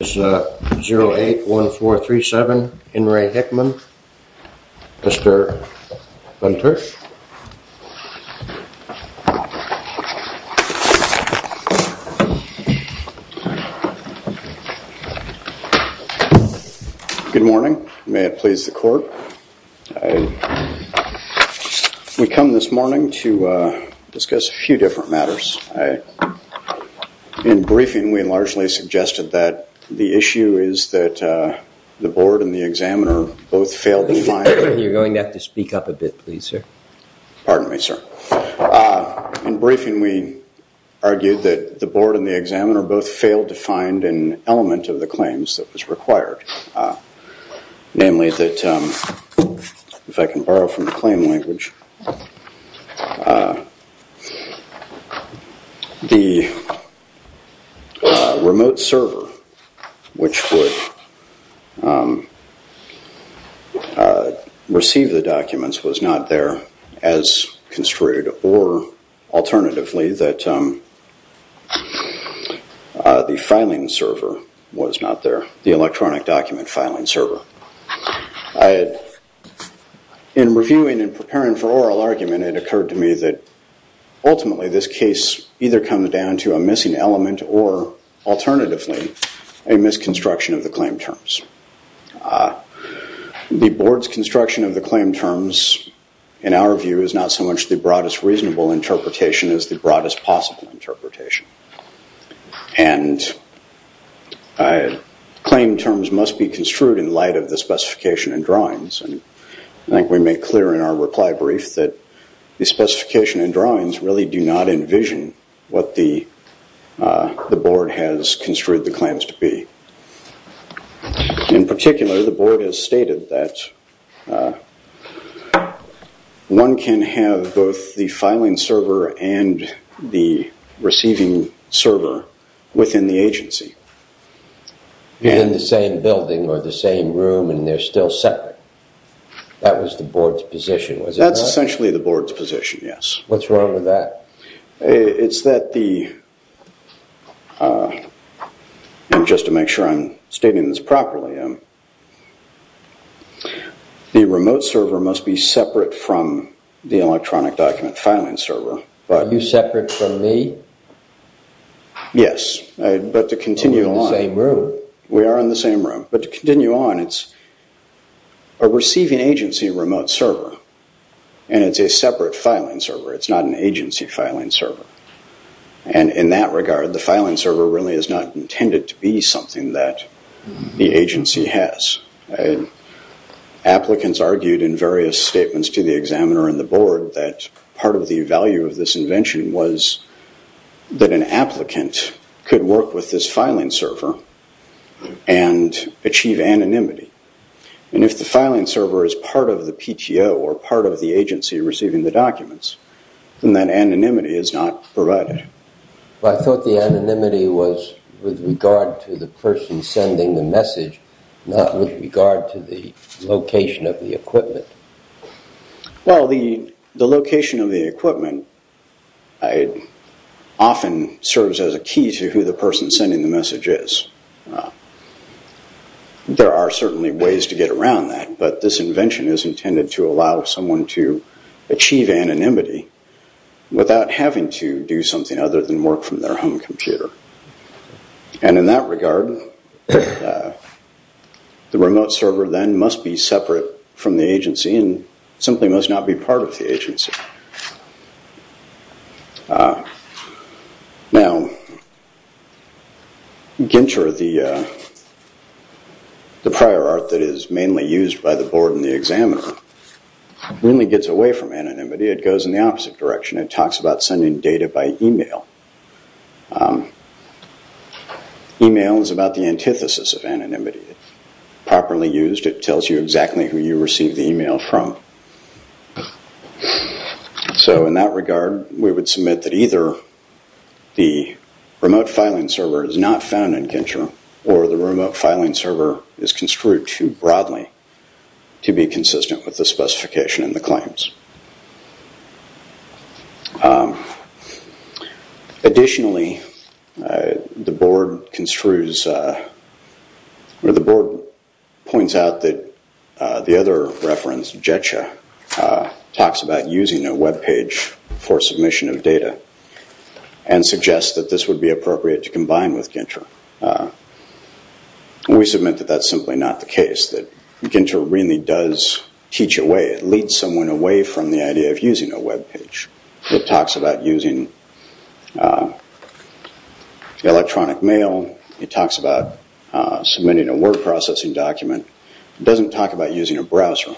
081437 In Re Hickman, Mr. Lentertz. Good morning. May it please the court. We come this morning to discuss a few different matters. In briefing, we largely suggested that the issue is that the board and the examiner both failed to find... You're going to have to speak up a bit, please, sir. Pardon me, sir. In briefing, we argued that the board and the examiner both failed to find an element of the claims that was required, namely that, if I can borrow from the claim language, the remote server which would receive the documents was not there as construed or alternatively that the filing server was not there, the electronic document filing server. In reviewing and preparing for oral argument, it occurred to me that, ultimately, this case either comes down to a missing element or, alternatively, a misconstruction of the claim terms. The board's construction of the claim terms, in our view, is not so much the broadest reasonable interpretation as the broadest possible interpretation. Claim terms must be construed in light of the specification and drawings. I think we made clear in our reply brief that the specification and drawings really do not envision what the board has construed the claims to be. In particular, the board has stated that one can have both the filing server and the receiving server within the agency. In the same building or the same room and they're still separate. That was the board's position, was it not? That's essentially the board's position, yes. What's wrong with that? It's that the, just to make sure I'm stating this properly, the remote server must be separate from the electronic document filing server. Are you separate from me? But to continue on. We're in the same room. We are in the same room. But to continue on, it's a receiving agency remote server and it's a separate filing server. It's not an agency filing server. In that regard, the filing server really is not intended to be something that the agency has. Applicants argued in various statements to the examiner and the board that part of the value of this invention was that an applicant could work with this filing server and achieve anonymity. If the filing server is part of the PTO or part of the agency receiving the documents, then that anonymity is not provided. I thought the anonymity was with regard to the person sending the message, not with regard to the location of the equipment. Well, the location of the equipment often serves as a key to who the person sending the message is. There are certainly ways to get around that, but this invention is intended to allow someone to achieve anonymity without having to do something other than work from their own computer. In that regard, the remote server then must be separate from the agency and simply must not be part of the agency. Now, Ginter, the prior art that is mainly used by the board and the examiner, really gets away from anonymity. It goes in the opposite direction. It talks about sending data by email. Email is about the antithesis of anonymity. Properly used, it tells you exactly who you received the email from. In that regard, we would submit that either the remote filing server is not found in Ginter or the remote filing server is construed too broadly to be consistent with the specification and the claims. Additionally, the board points out that the other reference, JETCHA, talks about using a webpage for submission of data and suggests that this would be appropriate to combine with Ginter. We submit that that's simply not the case, that Ginter really does teach a way, leads someone away from anonymity. It takes away from the idea of using a webpage. It talks about using electronic mail. It talks about submitting a word processing document. It doesn't talk about using a browser.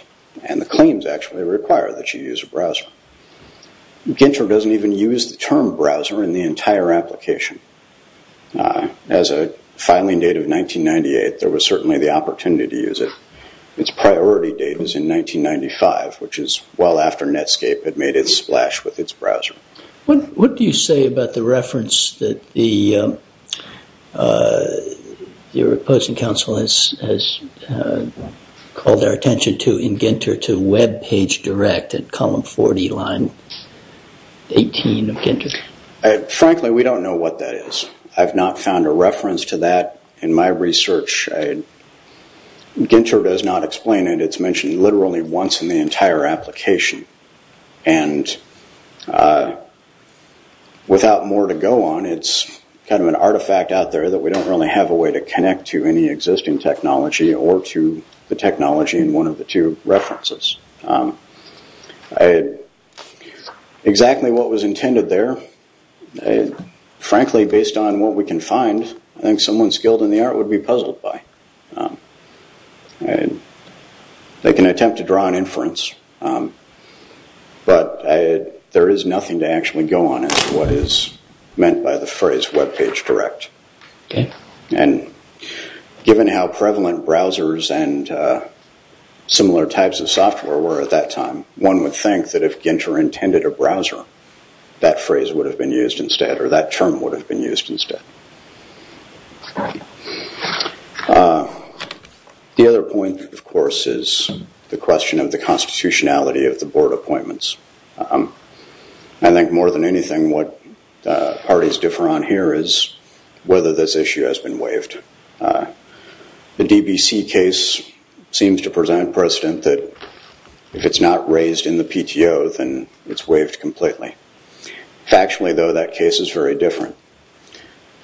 The claims actually require that you use a browser. Ginter doesn't even use the term browser in the entire application. As a filing date of 1998, there was certainly the opportunity to use it. Its priority date is in 1995, which is well after Netscape had made its splash with its browser. What do you say about the reference that the opposing counsel has called their attention to in Ginter to webpage direct at column 40, line 18 of Ginter? Frankly, we don't know what that is. I've not found a reference to that in my research. Ginter does not explain it. It's mentioned literally once in the entire application. Without more to go on, it's kind of an artifact out there that we don't really have a way to connect to any existing technology or to the technology in one of the two references. Exactly what was intended there, frankly, based on what we can find, I think someone skilled in the art would be puzzled by. They can attempt to draw an inference, but there is nothing to actually go on as to what is meant by the phrase webpage direct. Given how prevalent browsers and similar types of software were at that time, one would think that if Ginter intended a browser, that phrase would have been used instead or that term would have been used instead. The other point, of course, is the question of the constitutionality of the board appointments. I think more than anything what parties differ on here is whether this issue has been waived. The DBC case seems to present precedent that if it's not raised in the PTO, then it's waived completely. Factually, though, that case is very different.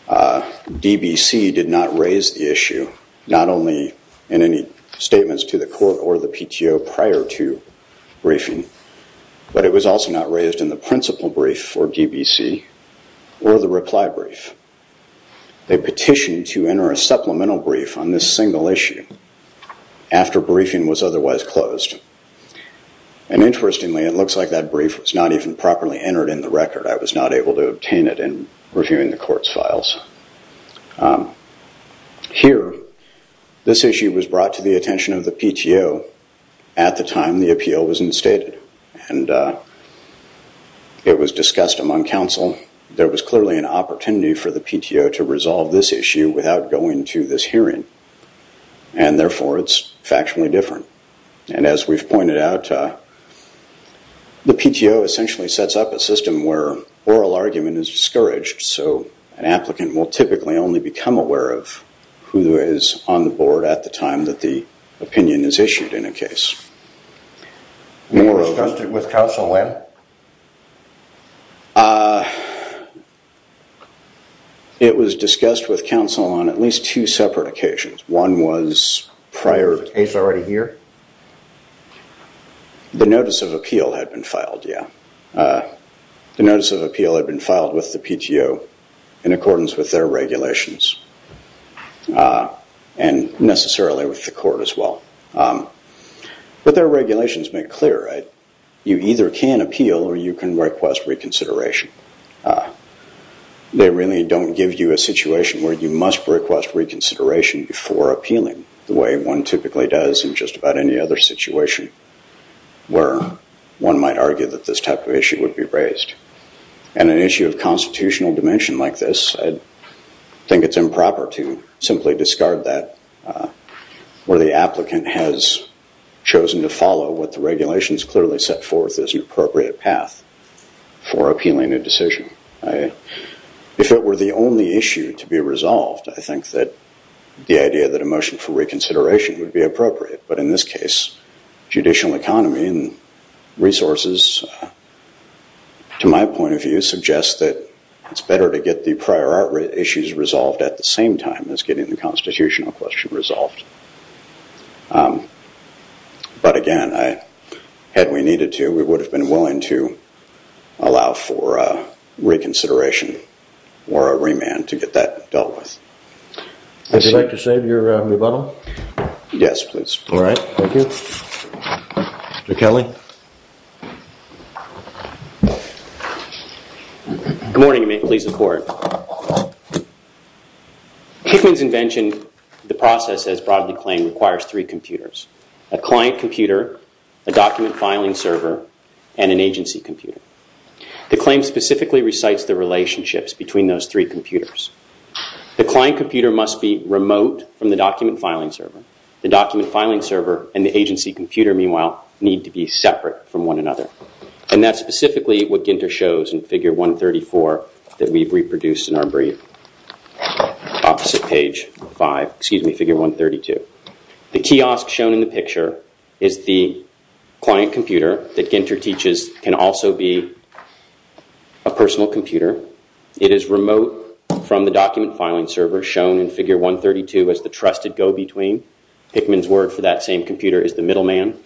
DBC did not raise the issue, not only in any statements to the court or the PTO prior to briefing, but it was also not raised in the principal brief for DBC or the reply brief. They petitioned to enter a supplemental brief on this single issue after briefing was otherwise closed. Interestingly, it looks like that brief was not even properly entered in the record. I was not able to obtain it in reviewing the court's files. Here, this issue was brought to the attention of the PTO at the time the appeal was instated. It was discussed among counsel. There was clearly an opportunity for the PTO to resolve this issue without going to this hearing. Therefore, it's factually different. As we've pointed out, the PTO essentially sets up a system where oral argument is discouraged. An applicant will typically only become aware of who is on the board at the time that the opinion is issued in a case. It was discussed with counsel when? It was discussed with counsel on at least two separate occasions. One was prior... Is the case already here? The notice of appeal had been filed, yeah. The notice of appeal had been filed with the PTO in accordance with their regulations. And necessarily with the court as well. But their regulations make clear you either can appeal or you can request reconsideration. They really don't give you a situation where you must request reconsideration before appealing the way one typically does in just about any other situation where one might argue that this type of issue would be raised. And an issue of constitutional dimension like this, I think it's improper to simply discard that where the applicant has chosen to follow what the regulations clearly set forth as an appropriate path for appealing a decision. If it were the only issue to be resolved, I think that the idea that a motion for reconsideration would be appropriate. But in this case, judicial economy and resources to my point of view suggest that it's better to get the prior art issues resolved at the same time as getting the constitutional question resolved. But again, had we needed to, we would have been willing to allow for reconsideration or a remand to get that dealt with. Would you like to say your rebuttal? Yes, please. Alright, thank you. Mr. Kelly? Good morning and may it please the court. Hickman's invention, the process as broadly claimed, requires three computers. A client computer, a document filing server, and an agency computer. The claim specifically recites the relationships between those three computers. The client computer must be remote from the document filing server. The document filing server and the agency computer, meanwhile, need to be separate from one another. And that's specifically what Ginter shows in figure 134 that we've reproduced in our brief. Opposite page 5, excuse me, figure 132. The kiosk shown in the picture is the client computer that Ginter teaches can also be a personal computer. It is remote from the document filing server shown in figure 132 as the trusted go-between. Hickman's word for that same computer is the middleman.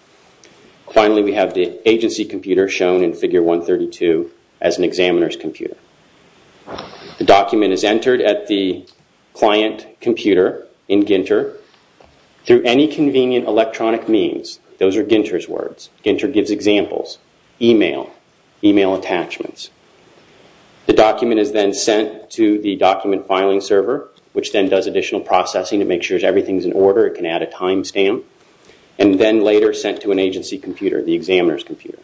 Finally, we have the agency computer shown in figure 132 as an examiner's computer. The document is entered at the client computer in Ginter through any convenient electronic means. Those are Ginter's words. Ginter gives examples. Email. Email attachments. The document is then sent to the document filing server, which then does additional processing to make sure everything is in order. It can add a timestamp and then later sent to an agency computer, the examiner's computer.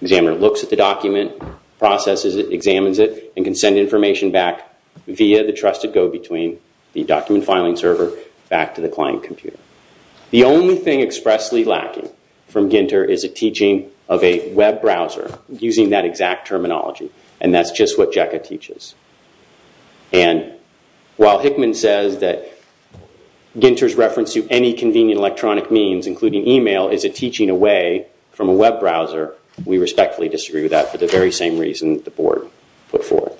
Examiner looks at the document, processes it, examines it, and can send information back via the trusted go-between. The document filing server back to the client computer. The only thing expressly lacking from Ginter is a teaching of a web browser using that exact terminology. And that's just what JECA teaches. And while Hickman says that Ginter's reference to any convenient electronic means, including email, is a teaching away from a web browser, we respectfully disagree with that for the very same reason the board put forth.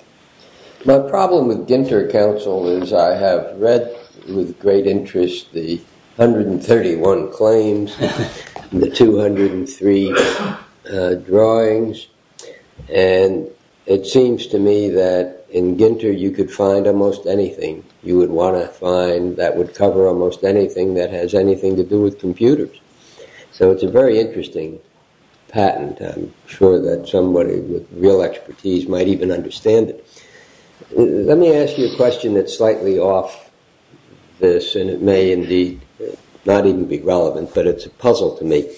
My problem with Ginter, counsel, is I have read with great interest the 131 claims, the 203 drawings, and it seems to me that in Ginter you could find almost anything you would want to find that would cover almost anything that has anything to do with computers. So it's a very interesting patent. I'm sure that somebody with real expertise might even understand it. Let me ask you a question that's slightly off this, and it may indeed not even be relevant, but it's a puzzle to me.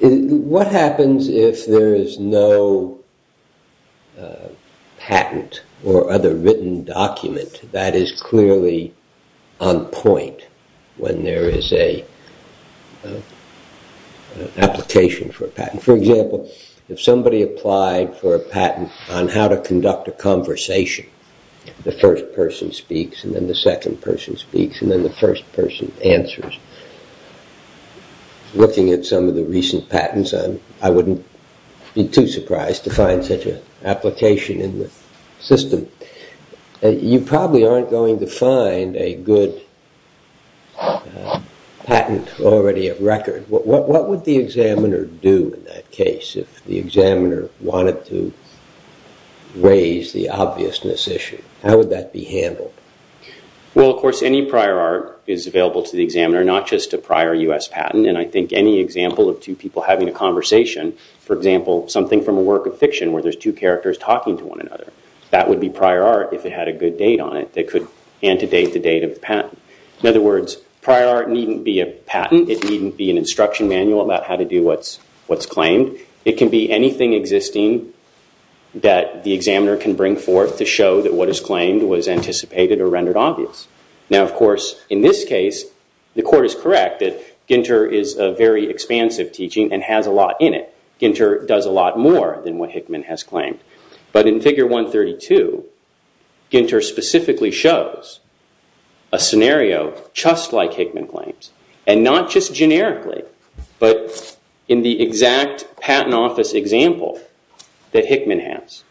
What happens if there is no patent or other written document that is clearly on point when there is an application for a patent? For example, if somebody applied for a patent on how to conduct a conversation, the first person speaks, and then the second person speaks, and then the first person answers. Looking at some of the recent patents, I wouldn't be too surprised to find such an application in the system. You probably aren't going to find a good patent already at record. What would the examiner do in that case if the examiner wanted to raise the obviousness issue? How would that be handled? Well, of course, any prior art is available to the examiner, not just a prior U.S. patent, and I think any example of two people having a conversation, for example, something from a work of fiction where there's two characters talking to one another, that would be prior art if it had a good date on it that could antedate the date of the patent. In other words, prior art needn't be a patent. It needn't be an instruction manual about how to do what's claimed. It can be anything existing that the examiner can bring forth to show that what is claimed was anticipated or rendered obvious. Now, of course, in this case, the court is correct that Ginter is a very expansive teaching and has a lot in it. Ginter does a lot more than what Hickman has claimed. But in Figure 132, Ginter specifically shows a scenario just like Hickman claims, and not just generically, but in the exact patent office example that Hickman has.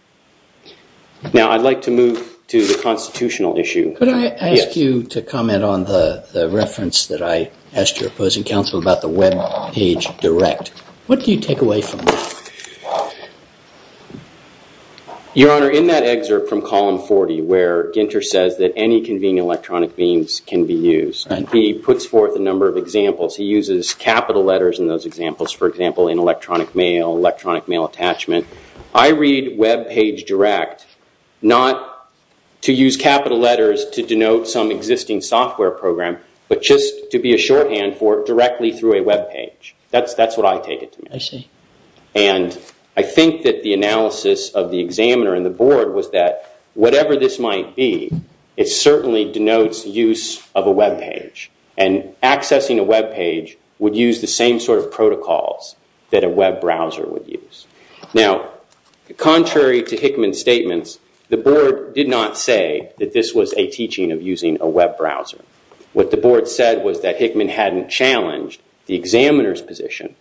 Now, I'd like to move to the constitutional issue. Could I ask you to comment on the reference that I asked your opposing counsel about the web page direct? What do you take away from this? Your Honor, in that excerpt from column 40 where Ginter says that any convenient electronic means can be used, he puts forth a number of examples. He uses capital letters in those examples, for example, in electronic mail, electronic mail attachment. I read web page direct not to use capital letters to denote some existing software program, but just to be a shorthand for directly through a web page. That's what I take it to mean. I see. And I think that the analysis of the examiner and the board was that whatever this might be, it certainly denotes use of a web page. And accessing a web page would use the same sort of protocols that a web browser would use. Now, contrary to Hickman's statements, the board did not say that this was a teaching of using a web browser. What the board said was that Hickman hadn't challenged the examiner's position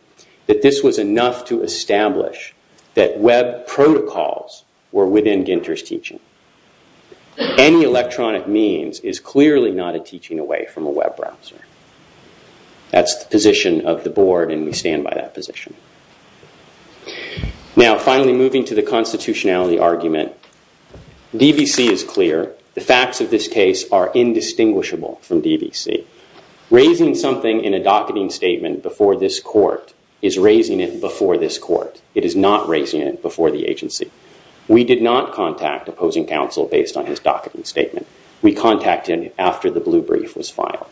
that this was enough to establish that web protocols were within Ginter's teaching. Any electronic means is clearly not a teaching away from a web browser. That's the position of the board, and we stand by that position. Now, finally, moving to the constitutionality argument, DBC is clear. The facts of this case are indistinguishable from DBC. Raising something in a docketing statement before this court is raising it before this court. It is not raising it before the agency. We did not contact opposing counsel based on his docketing statement. We contacted him after the blue brief was filed.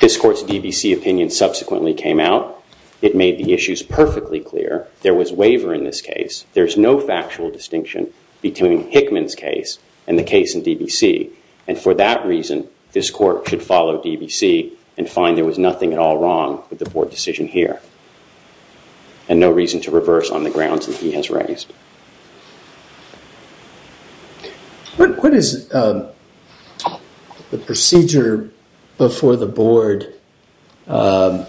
This court's DBC opinion subsequently came out. It made the issues perfectly clear. There was waiver in this case. There is no factual distinction between Hickman's case and the case in DBC. And for that reason, this court should follow DBC and find there was nothing at all wrong with the board decision here. And no reason to reverse on the grounds that he has raised. What is the procedure before the board with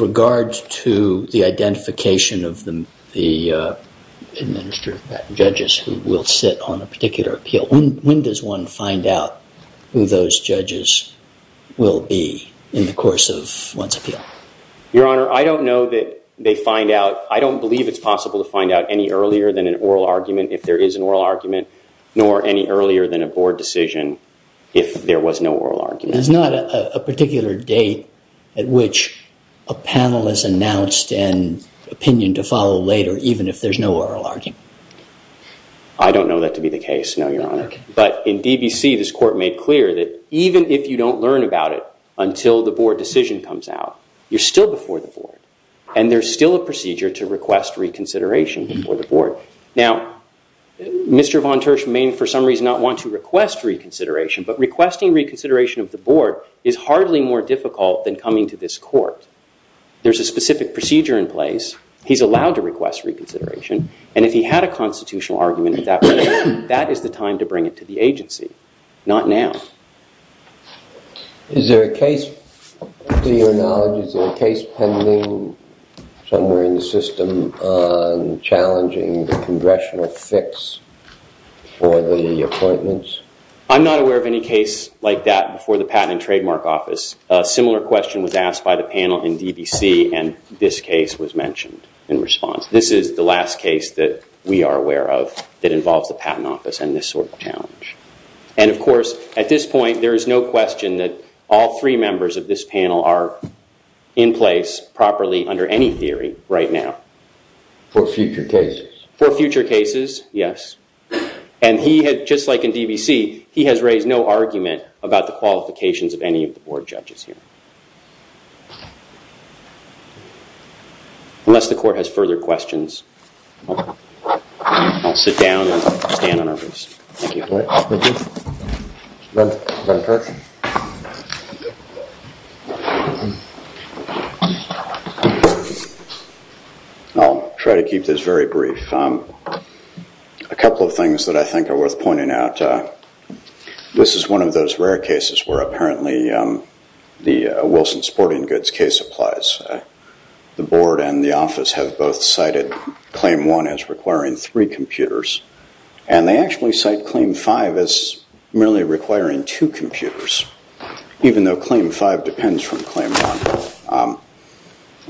regard to the identification of the administrative judges who will sit on a particular appeal? When does one find out who those judges will be in the course of one's appeal? Your Honor, I don't know that they find out. But I don't believe it's possible to find out any earlier than an oral argument if there is an oral argument, nor any earlier than a board decision if there was no oral argument. There's not a particular date at which a panelist announced an opinion to follow later even if there's no oral argument? I don't know that to be the case, no, Your Honor. But in DBC, this court made clear that even if you don't learn about it until the board decision comes out, you're still before the board. And there's still a procedure to request reconsideration before the board. Now, Mr. Von Tersch may for some reason not want to request reconsideration, but requesting reconsideration of the board is hardly more difficult than coming to this court. There's a specific procedure in place. He's allowed to request reconsideration. And if he had a constitutional argument at that point, that is the time to bring it to the agency, not now. Is there a case, to your knowledge, is there a case pending somewhere in the system on challenging the congressional fix for the appointments? I'm not aware of any case like that before the Patent and Trademark Office. A similar question was asked by the panel in DBC, and this case was mentioned in response. This is the last case that we are aware of that involves the Patent Office and this sort of challenge. And, of course, at this point, there is no question that all three members of this panel are in place properly under any theory right now. For future cases? For future cases, yes. And he had, just like in DBC, he has raised no argument about the qualifications of any of the board judges here. Unless the court has further questions, I'll sit down and stand on our feet. Thank you. I'll try to keep this very brief. A couple of things that I think are worth pointing out. This is one of those rare cases where apparently the Wilson Sporting Goods case applies. The board and the office have both cited Claim 1 as requiring three computers. And they actually cite Claim 5 as merely requiring two computers, even though Claim 5 depends from Claim 1.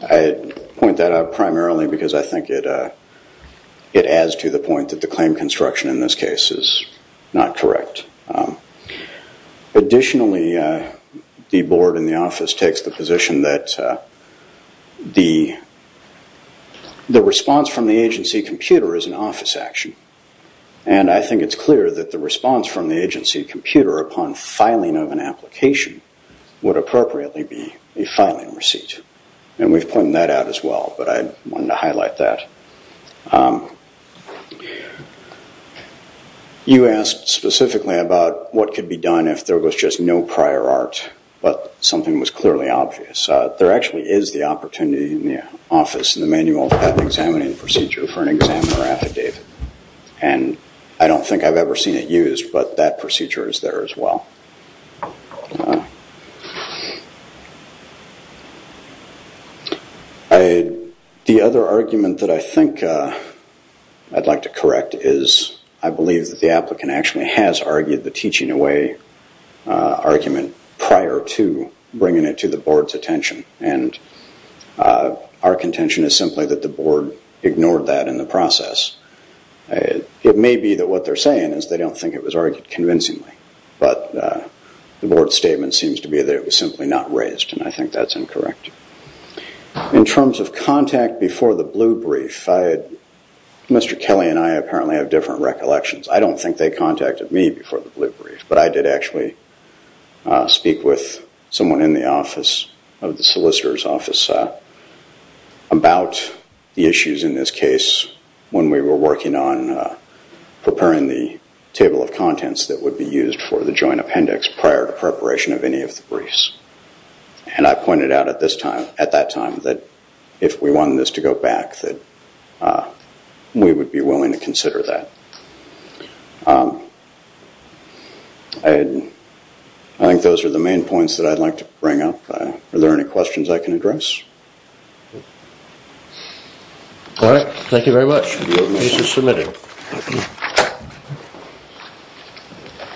I point that out primarily because I think it adds to the point that the claim construction in this case is not correct. Additionally, the board and the office takes the position that the response from the agency computer is an office action. And I think it's clear that the response from the agency computer upon filing of an application would appropriately be a filing receipt. And we've pointed that out as well, but I wanted to highlight that. You asked specifically about what could be done if there was just no prior art, but something was clearly obvious. There actually is the opportunity in the office in the manual of patent examining procedure for an examiner affidavit. And I don't think I've ever seen it used, but that procedure is there as well. The other argument that I think I'd like to correct is I believe that the applicant actually has argued the teaching away argument prior to bringing it to the board's attention. And our contention is simply that the board ignored that in the process. It may be that what they're saying is they don't think it was argued convincingly, but the board statement seems to be that it was simply not raised. And I think that's incorrect. In terms of contact before the blue brief, Mr. Kelly and I apparently have different recollections. I don't think they contacted me before the blue brief, but I did actually speak with someone in the office of the solicitor's office about the issues in this case when we were working on preparing the table of contents that would be used for the joint appendix prior to preparation of any of the briefs. And I pointed out at that time that if we wanted this to go back, that we would be willing to consider that. I think those are the main points that I'd like to bring up. Are there any questions I can address? All right. Thank you very much. This is submitted.